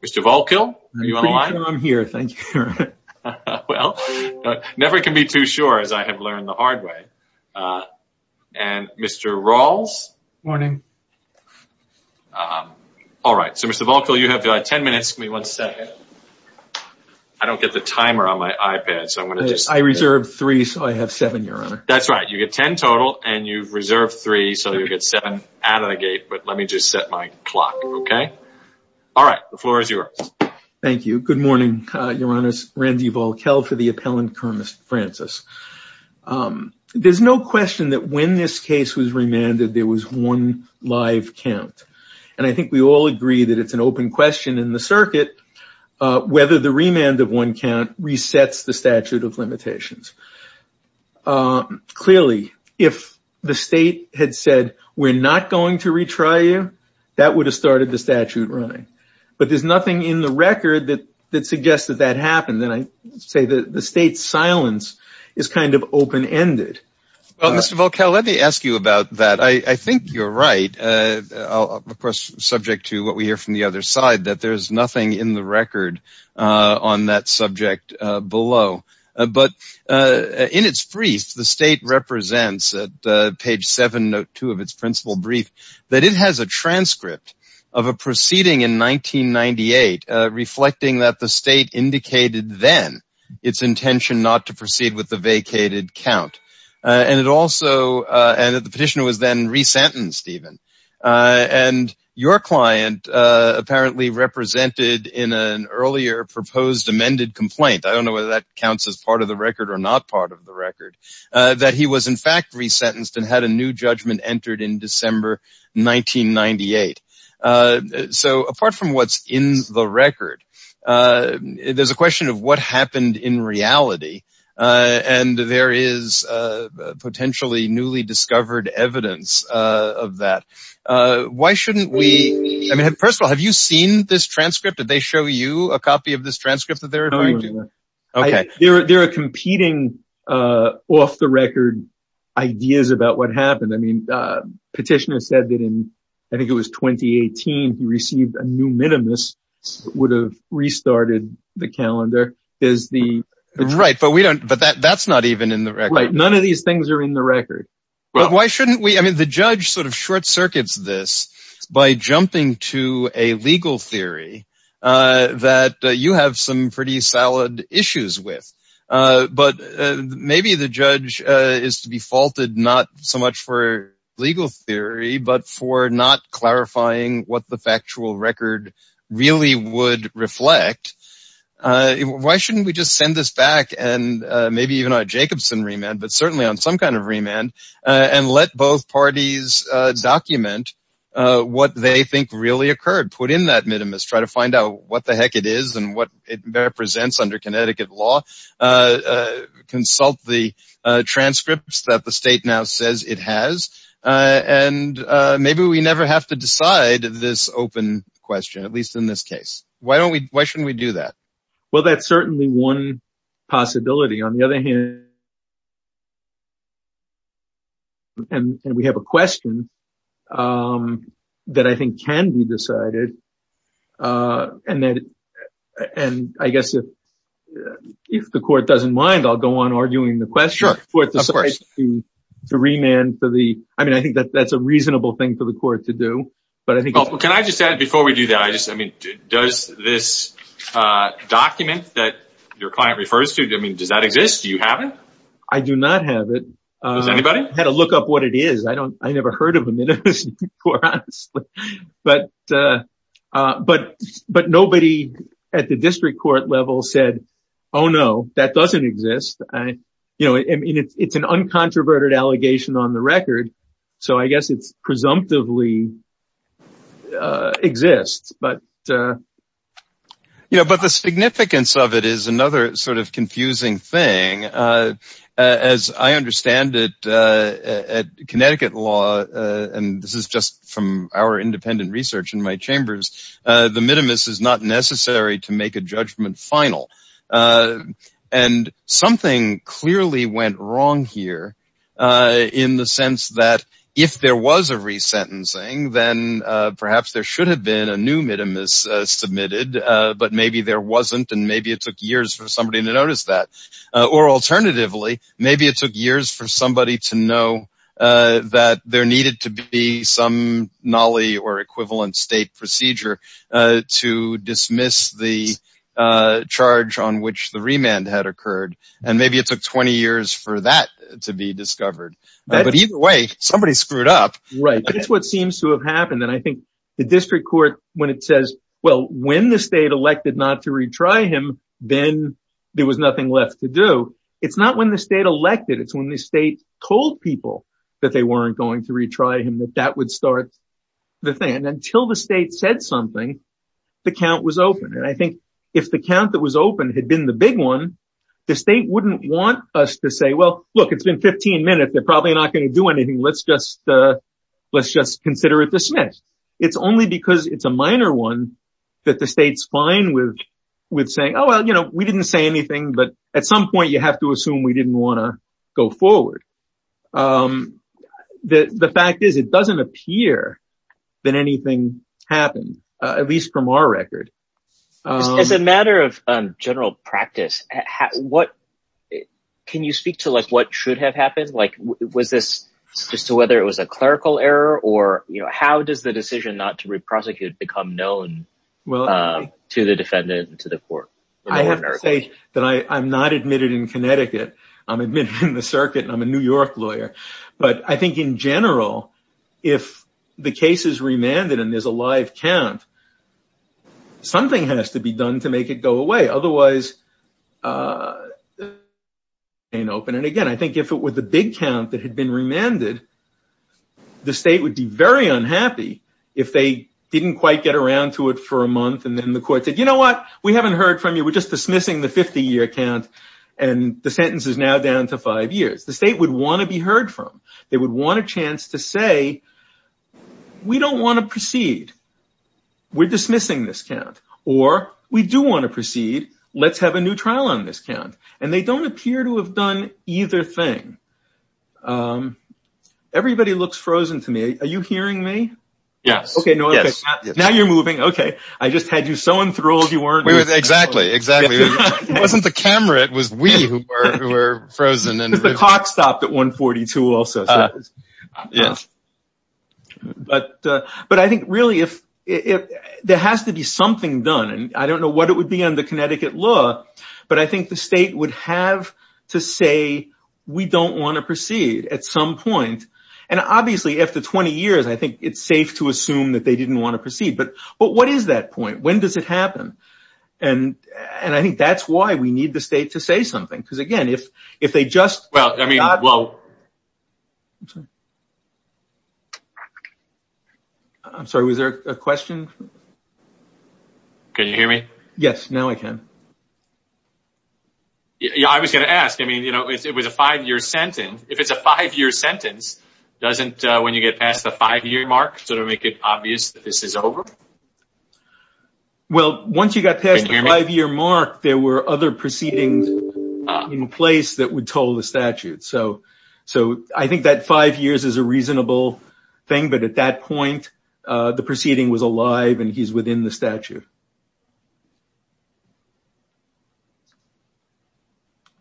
Mr. Volkil, you have 10 minutes, I don't get the timer on my iPad, so I'm going to do this. I reserve three, so I have seven, Your Honor. That's right, you get 10 total, and you've reserved three, so you get seven out of the gate, but let me just set my clock, okay? All right, the floor is yours. Thank you. Good morning, Your Honors. Randy Volkil for the appellant, Kernis Francis. There's no question that when this case was remanded, there was one live count, and I think we all agree that it's an open question in the circuit whether the remand of one count resets the statute of limitations. Clearly, if the state had said, we're not going to retry you, that would have started the statute running, but there's nothing in the record that suggests that that happened, and I say that the state's silence is kind of open-ended. Well, Mr. Volkil, let me ask you about that. I think you're right, of course, subject to what we hear from the other side, that there's nothing in the record on that subject below, but in its brief, the state represents at page 7, note 2 of its principal brief, that it has a transcript of a proceeding in 1998 reflecting that the state indicated then its intention not to proceed with the vacated count. The petitioner was then resentenced even, and your client apparently represented in an earlier proposed amended complaint, I don't know whether that counts as part of the record or not part of the record, that he was in fact resentenced and had a new judgment entered in December 1998. So apart from what's in the record, there's a question of what happened in reality, and there is potentially newly discovered evidence of that. Why shouldn't we, I mean, first of all, have you seen this transcript? Did they show you a copy of this transcript that they're referring to? There are competing off-the-record ideas about what happened. I mean, petitioner said that in, I think it was 2018, he received a new minimus, would have restarted the calendar. Right, but that's not even in the record. Right, none of these things are in the record. But why shouldn't we, I mean, the judge sort of short-circuits this by jumping to a legal theory that you have some pretty solid issues with. But maybe the judge is to be faulted not so much for legal theory, but for not clarifying what the factual record really would reflect. Why shouldn't we just send this back and maybe even on a Jacobson remand, but certainly on some kind of remand and let both parties document what they think really occurred, put in that minimus, try to find out what the heck it is and what it represents under Connecticut law. Consult the transcripts that the state now says it has. And maybe we never have to decide this open question, at least in this case. Why don't we, why shouldn't we do that? Well, that's certainly one possibility. On the other hand, and we have a question that I think can be decided. And I guess if the court doesn't mind, I'll go on arguing the question to remand for the. I mean, I think that that's a reasonable thing for the court to do. But I think can I just add before we do that? I just I mean, does this document that your client refers to? I mean, does that exist? Do you have it? I do not have it. Anybody had to look up what it is. I don't I never heard of it. But but but nobody at the district court level said, oh, no, that doesn't exist. You know, it's an uncontroverted allegation on the record. So I guess it's presumptively exists. But, you know, but the significance of it is another sort of confusing thing. As I understand it, Connecticut law. And this is just from our independent research in my chambers. The minimus is not necessary to make a judgment final. And something clearly went wrong here in the sense that if there was a resentencing, then perhaps there should have been a new minimus submitted. But maybe there wasn't. And maybe it took years for somebody to notice that. Or alternatively, maybe it took years for somebody to know that there needed to be some nolly or equivalent state procedure to dismiss the charge on which the remand had occurred. And maybe it took 20 years for that to be discovered. But either way, somebody screwed up. Right. That's what seems to have happened. And I think the district court, when it says, well, when the state elected not to retry him, then there was nothing left to do. It's not when the state elected. It's when the state told people that they weren't going to retry him, that that would start the thing. And until the state said something, the count was open. And I think if the count that was open had been the big one, the state wouldn't want us to say, well, look, it's been 15 minutes. They're probably not going to do anything. Let's just let's just consider it dismissed. It's only because it's a minor one that the state's fine with with saying, oh, well, you know, we didn't say anything. But at some point you have to assume we didn't want to go forward. The fact is, it doesn't appear that anything happened, at least from our record. As a matter of general practice, what can you speak to? Like what should have happened? Like was this just to whether it was a clerical error or you know, how does the decision not to reprosecute become known to the defendant and to the court? I have to say that I'm not admitted in Connecticut. I'm admitted in the circuit and I'm a New York lawyer. But I think in general, if the case is remanded and there's a live count. Something has to be done to make it go away. Otherwise. And again, I think if it were the big count that had been remanded. The state would be very unhappy if they didn't quite get around to it for a month. And then the court said, you know what? We haven't heard from you. We're just dismissing the 50 year count. And the sentence is now down to five years. The state would want to be heard from. They would want a chance to say, we don't want to proceed. We're dismissing this count or we do want to proceed. Let's have a new trial on this count. And they don't appear to have done either thing. Everybody looks frozen to me. Are you hearing me? Yes. OK. Now you're moving. OK. I just had you so enthralled you weren't. Exactly. Exactly. It wasn't the camera. It was we who were frozen. The clock stopped at 142 also. Yes. But but I think really, if if there has to be something done and I don't know what it would be on the Connecticut law. But I think the state would have to say we don't want to proceed at some point. And obviously, after 20 years, I think it's safe to assume that they didn't want to proceed. But but what is that point? When does it happen? And and I think that's why we need the state to say something. Because, again, if if they just. Well, I mean, well. I'm sorry. Was there a question? Can you hear me? Yes. Now I can. Yeah, I was going to ask, I mean, you know, it was a five year sentence. If it's a five year sentence, doesn't when you get past the five year mark sort of make it obvious that this is over? Well, once you got past your mark, there were other proceedings in place that would toll the statute. So so I think that five years is a reasonable thing. But at that point, the proceeding was alive and he's within the statute.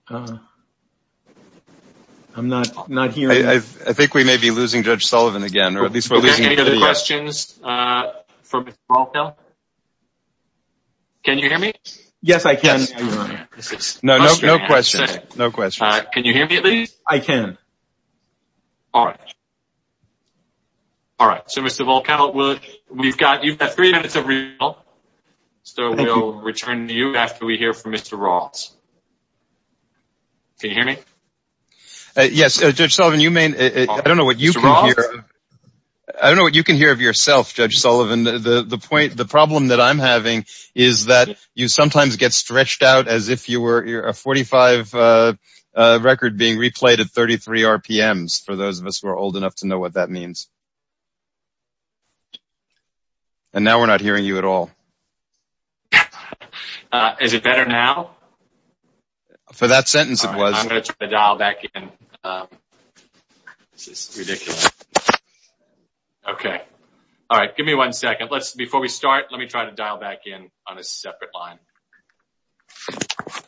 I'm not not here. I think we may be losing Judge Sullivan again, or at least we're losing any other questions from all. Now, can you hear me? Yes, I can. No, no, no question. No question. Can you hear me? I can. All right. All right. So, Mr. Volkow, we've got three minutes of real. So we'll return to you after we hear from Mr. Ross. Can you hear me? Yes. Judge Sullivan, you may. I don't know what you can hear. I don't know what you can hear of yourself, Judge Sullivan. The point, the problem that I'm having is that you sometimes get stretched out as if you were a 45 record being replayed at 33 RPMs. For those of us who are old enough to know what that means. And now we're not hearing you at all. Is it better now? For that sentence, it was. I'm going to dial back in. This is ridiculous. OK. All right. Give me one second. Let's before we start. Let me try to dial back in on a separate line. All right.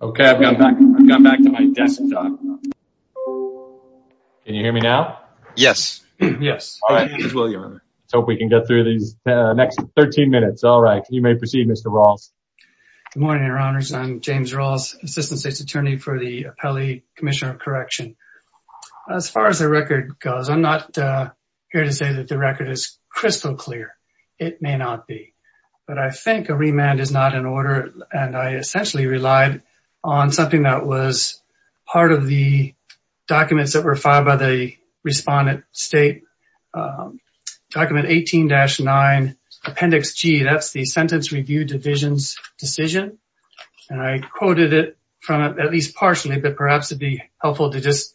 OK, I've got back. I've got back to my desk. Can you hear me now? Yes. Yes. All right. Hope we can get through these next 13 minutes. All right. You may proceed, Mr. Ross. Good morning, Your Honors. I'm James Ross, Assistant State's Attorney for the Appellee Commissioner of Correction. As far as the record goes, I'm not here to say that the record is crystal clear. It may not be. But I think a remand is not an order. And I essentially relied on something that was part of the documents that were filed by the respondent state document 18-9 Appendix G. That's the Sentence Review Division's decision. And I quoted it from at least partially, but perhaps it'd be helpful to just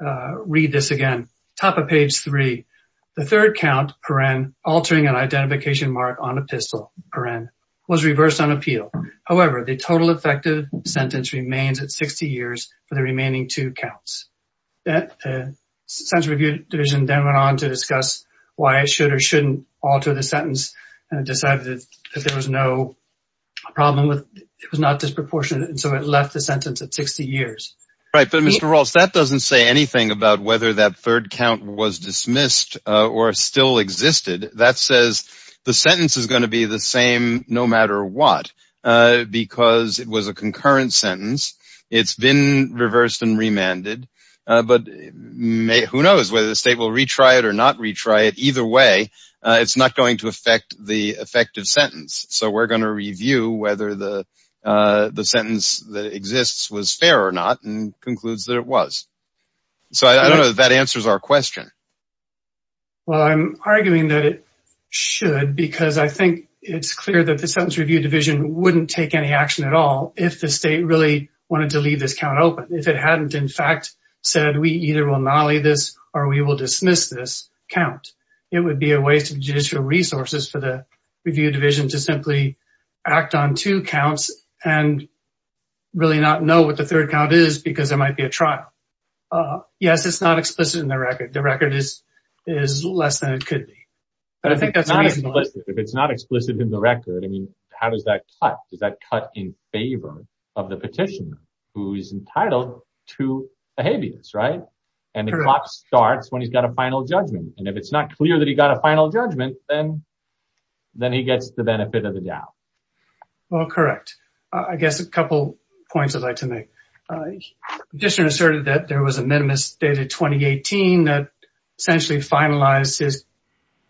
read this again. The third count, per-en, altering an identification mark on a pistol, per-en, was reversed on appeal. However, the total effective sentence remains at 60 years for the remaining two counts. The Sentence Review Division then went on to discuss why it should or shouldn't alter the sentence and decided that there was no problem with it. It was not disproportionate. And so it left the sentence at 60 years. Right, but Mr. Ross, that doesn't say anything about whether that third count was dismissed or still existed. That says the sentence is going to be the same no matter what, because it was a concurrent sentence. It's been reversed and remanded. But who knows whether the state will retry it or not retry it. Either way, it's not going to affect the effective sentence. So we're going to review whether the sentence that exists was fair or not and concludes that it was. So I don't know if that answers our question. Well, I'm arguing that it should because I think it's clear that the Sentence Review Division wouldn't take any action at all if the state really wanted to leave this count open. If it hadn't, in fact, said we either will not leave this or we will dismiss this count. It would be a waste of judicial resources for the review division to simply act on two counts and really not know what the third count is because there might be a trial. Yes, it's not explicit in the record. The record is is less than it could be. But I think that's not explicit if it's not explicit in the record. I mean, how does that cut? Does that cut in favor of the petitioner who is entitled to a habeas, right? And the clock starts when he's got a final judgment. And if it's not clear that he got a final judgment, then he gets the benefit of the doubt. Well, correct. I guess a couple points I'd like to make. The petitioner asserted that there was a minimus dated 2018 that essentially finalized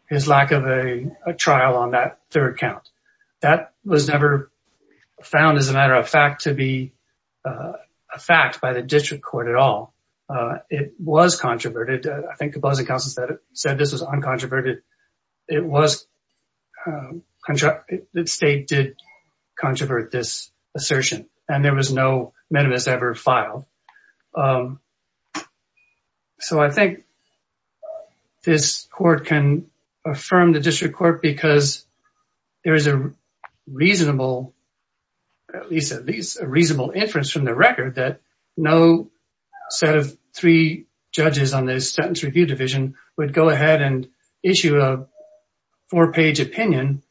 his lack of a trial on that third count. That was never found as a matter of fact to be a fact by the district court at all. It was controverted. I think the budget council said this was uncontroverted. It was, the state did controvert this assertion and there was no minimus ever filed. So I think this court can affirm the district court because there is a reasonable, at least a reasonable inference from the record, that no set of three judges on the sentence review division would go ahead and issue a four page opinion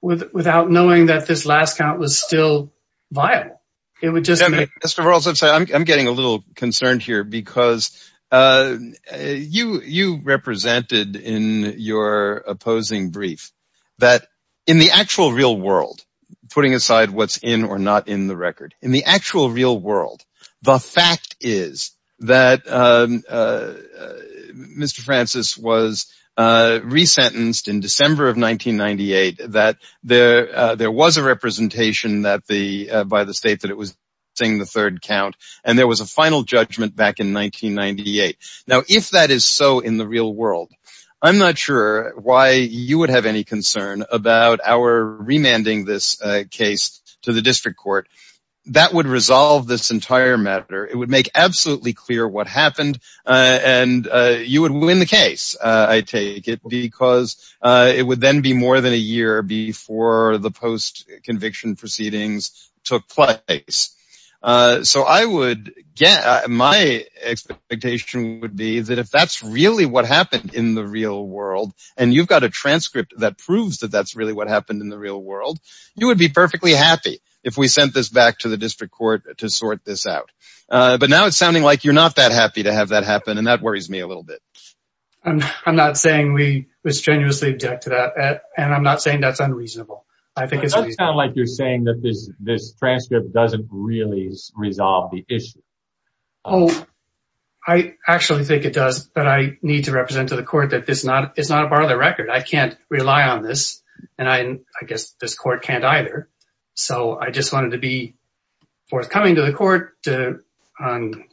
without knowing that this last count was still viable. Mr. Rawls, I'm getting a little concerned here because you represented in your opposing brief that in the actual real world, putting aside what's in or not in the record, in the actual real world, the fact is that Mr. Francis was resentenced in December of 1998, that there was a representation by the state that it was missing the third count and there was a final judgment back in 1998. Now, if that is so in the real world, I'm not sure why you would have any concern about our remanding this case to the district court. That would resolve this entire matter. It would make absolutely clear what happened and you would win the case, I take it, because it would then be more than a year before the post conviction proceedings took place. So my expectation would be that if that's really what happened in the real world and you've got a transcript that proves that that's really what happened in the real world, you would be perfectly happy if we sent this back to the district court to sort this out. But now it's sounding like you're not that happy to have that happen and that worries me a little bit. I'm not saying we was genuinely object to that and I'm not saying that's unreasonable. It does sound like you're saying that this transcript doesn't really resolve the issue. Oh, I actually think it does, but I need to represent to the court that it's not a part of the record. I can't rely on this and I guess this court can't either. So I just wanted to be forthcoming to the court on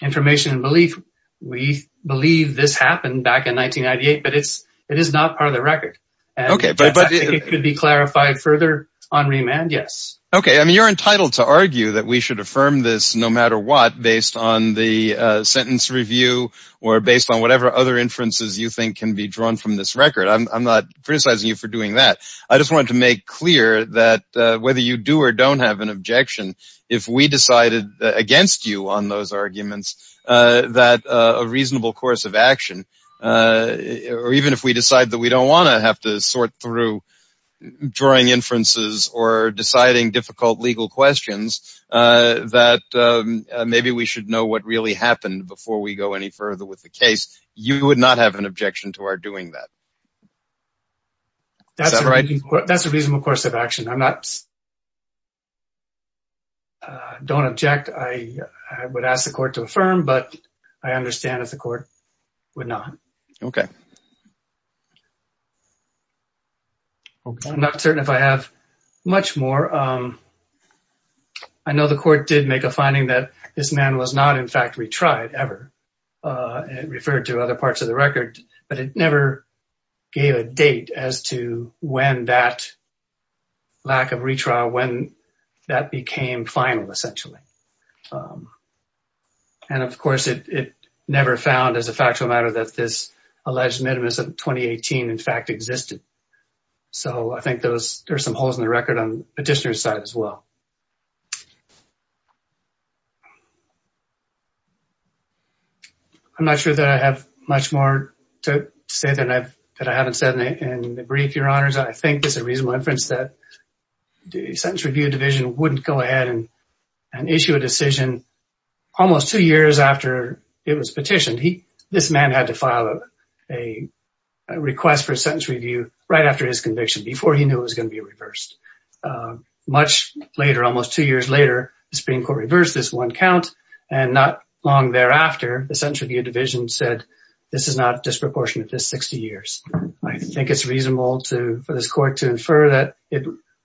information and belief. We believe this happened back in 1998, but it's it is not part of the record. OK, but it could be clarified further on remand. Yes. OK, I mean, you're entitled to argue that we should affirm this no matter what, based on the sentence review or based on whatever other inferences you think can be drawn from this record. I'm not criticizing you for doing that. I just want to make clear that whether you do or don't have an objection, if we decided against you on those arguments that a reasonable course of action, or even if we decide that we don't want to have to sort through drawing inferences or deciding difficult legal questions, that maybe we should know what really happened before we go any further with the case. You would not have an objection to our doing that. That's right. That's a reasonable course of action. I'm not. I don't object. I would ask the court to affirm, but I understand if the court would not. OK. I'm not certain if I have much more. I know the court did make a finding that this man was not, in fact, retried ever. It referred to other parts of the record, but it never gave a date as to when that lack of retrial, when that became final, essentially. And of course, it never found as a factual matter that this alleged minimus of 2018, in fact, existed. So I think there's some holes in the record on the petitioner's side as well. I'm not sure that I have much more to say that I haven't said in the brief, Your Honors. I think this is a reasonable inference that the Sentence Review Division wouldn't go ahead and issue a decision almost two years after it was petitioned. This man had to file a request for a sentence review right after his conviction, before he knew it was going to be reversed. Much later, almost two years later, the Supreme Court reversed this one count, and not long thereafter, the Sentence Review Division said this is not disproportionate to 60 years. I think it's reasonable for this court to infer that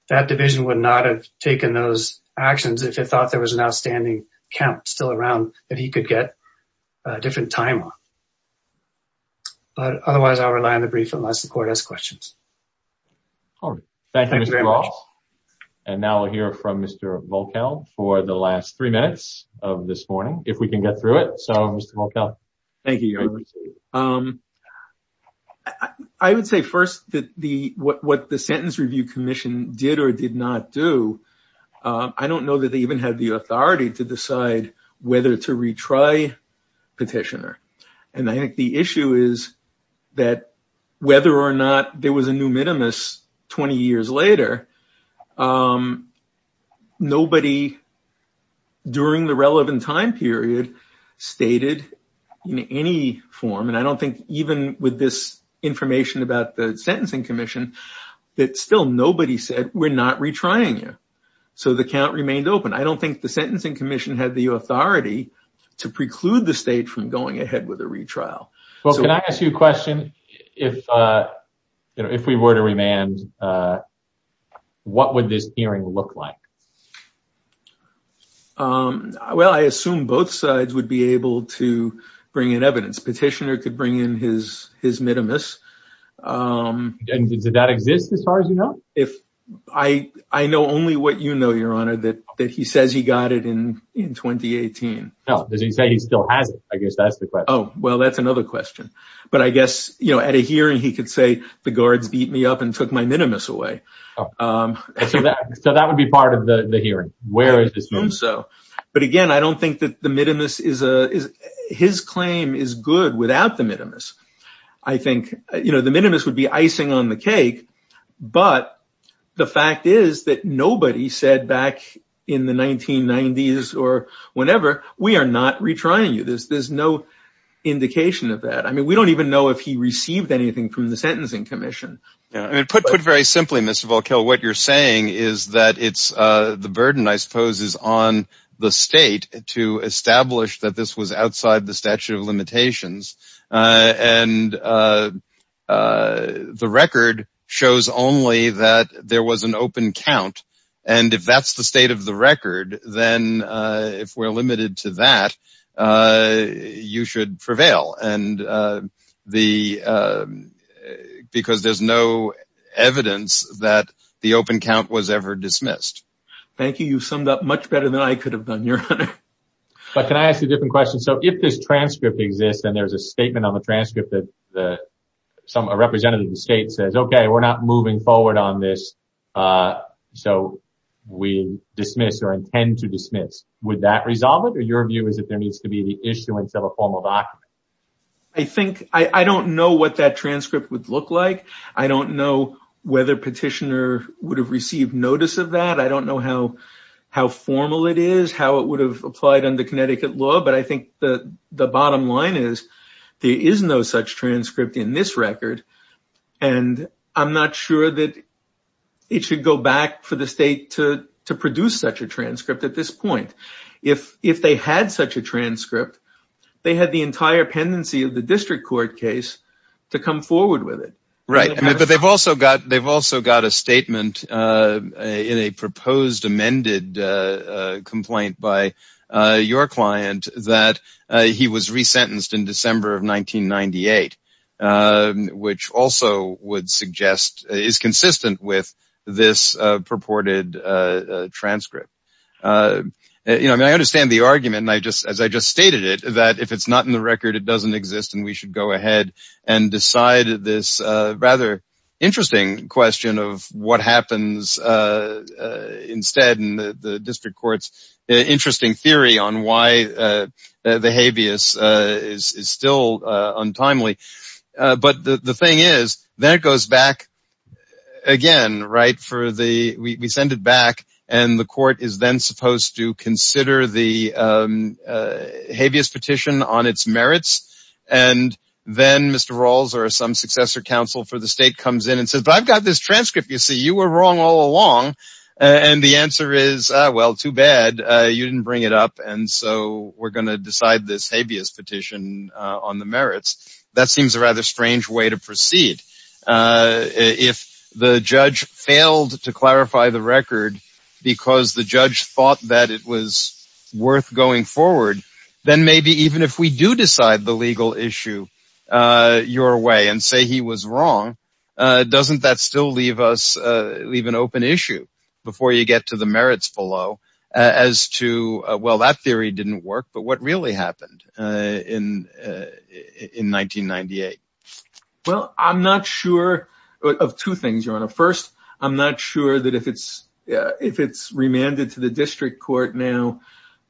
that division would not have taken those actions if it thought there was an outstanding count still around that he could get a different time on. But otherwise, I'll rely on the brief unless the court has questions. Thank you, Mr. Ross. And now we'll hear from Mr. Volkel for the last three minutes of this morning, if we can get through it. So, Mr. Volkel. Thank you, Your Honor. I would say first that what the Sentence Review Commission did or did not do, I don't know that they even had the authority to decide whether to retry petitioner. And I think the issue is that whether or not there was a new minimus 20 years later, nobody during the relevant time period stated in any form, and I don't think even with this information about the Sentencing Commission, that still nobody said we're not retrying you. So the count remained open. I don't think the Sentencing Commission had the authority to preclude the state from going ahead with a retrial. Well, can I ask you a question? If we were to remand, what would this hearing look like? Well, I assume both sides would be able to bring in evidence. Petitioner could bring in his minimus. And does that exist as far as you know? I know only what you know, Your Honor, that he says he got it in 2018. Does he say he still has it? I guess that's the question. Oh, well, that's another question. But I guess, you know, at a hearing, he could say the guards beat me up and took my minimus away. So that would be part of the hearing? I assume so. But again, I don't think that the minimus is his claim is good without the minimus. I think, you know, the minimus would be icing on the cake. But the fact is that nobody said back in the 1990s or whenever, we are not retrying you. There's no indication of that. I mean, we don't even know if he received anything from the Sentencing Commission. Put very simply, Mr. Volkow, what you're saying is that the burden, I suppose, is on the state to establish that this was outside the statute of limitations. And the record shows only that there was an open count. And if that's the state of the record, then if we're limited to that, you should prevail. Because there's no evidence that the open count was ever dismissed. Thank you. You summed up much better than I could have done, Your Honor. But can I ask a different question? So if this transcript exists and there's a statement on the transcript that a representative of the state says, okay, we're not moving forward on this, so we dismiss or intend to dismiss, would that resolve it? Or your view is that there needs to be the issuance of a formal document? I don't know what that transcript would look like. I don't know whether Petitioner would have received notice of that. I don't know how formal it is, how it would have applied under Connecticut law. But I think the bottom line is there is no such transcript in this record. And I'm not sure that it should go back for the state to produce such a transcript at this point. If they had such a transcript, they had the entire pendency of the district court case to come forward with it. Right. But they've also got a statement in a proposed amended complaint by your client that he was resentenced in December of 1998, which also would suggest is consistent with this purported transcript. I understand the argument, as I just stated it, that if it's not in the record, it doesn't exist and we should go ahead and decide this rather interesting question of what happens instead in the district court's interesting theory on why the habeas is still untimely. But the thing is that it goes back again. Right. For the we send it back and the court is then supposed to consider the habeas petition on its merits. And then Mr. Rawls or some successor counsel for the state comes in and says, but I've got this transcript. You see, you were wrong all along. And the answer is, well, too bad you didn't bring it up. And so we're going to decide this habeas petition on the merits. That seems a rather strange way to proceed. If the judge failed to clarify the record because the judge thought that it was worth going forward, then maybe even if we do decide the legal issue your way and say he was wrong. Doesn't that still leave us leave an open issue before you get to the merits below as to, well, that theory didn't work, but what really happened in in 1998? Well, I'm not sure of two things, your honor. First, I'm not sure that if it's if it's remanded to the district court now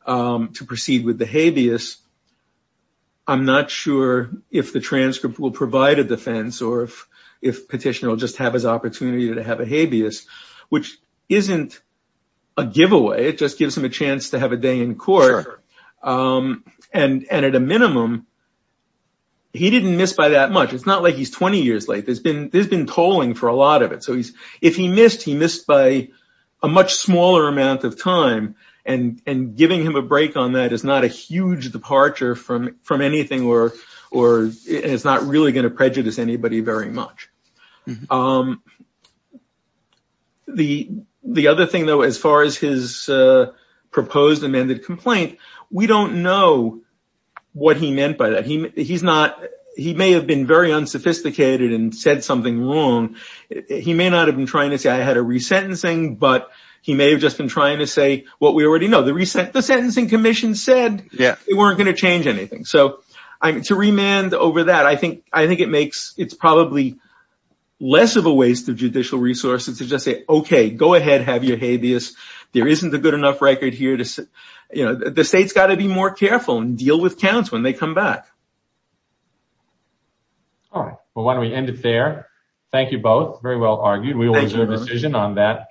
to proceed with the habeas. I'm not sure if the transcript will provide a defense or if if petitioner will just have his opportunity to have a habeas, which isn't a giveaway. It just gives him a chance to have a day in court. And at a minimum, he didn't miss by that much. It's not like he's 20 years late. There's been there's been tolling for a lot of it. So he's if he missed, he missed by a much smaller amount of time. And and giving him a break on that is not a huge departure from from anything or or it's not really going to prejudice anybody very much. The the other thing, though, as far as his proposed amended complaint, we don't know what he meant by that. He he's not he may have been very unsophisticated and said something wrong. He may not have been trying to say I had a resentencing, but he may have just been trying to say what we already know. The resent the sentencing commission said, yeah, it weren't going to change anything. So I'm to remand over that. I think I think it makes it's probably less of a waste of judicial resources to just say, OK, go ahead. Have your habeas. There isn't a good enough record here to you know, the state's got to be more careful and deal with counts when they come back. All right. Well, why don't we end it there? Thank you both. Very well argued. We always have a decision on that.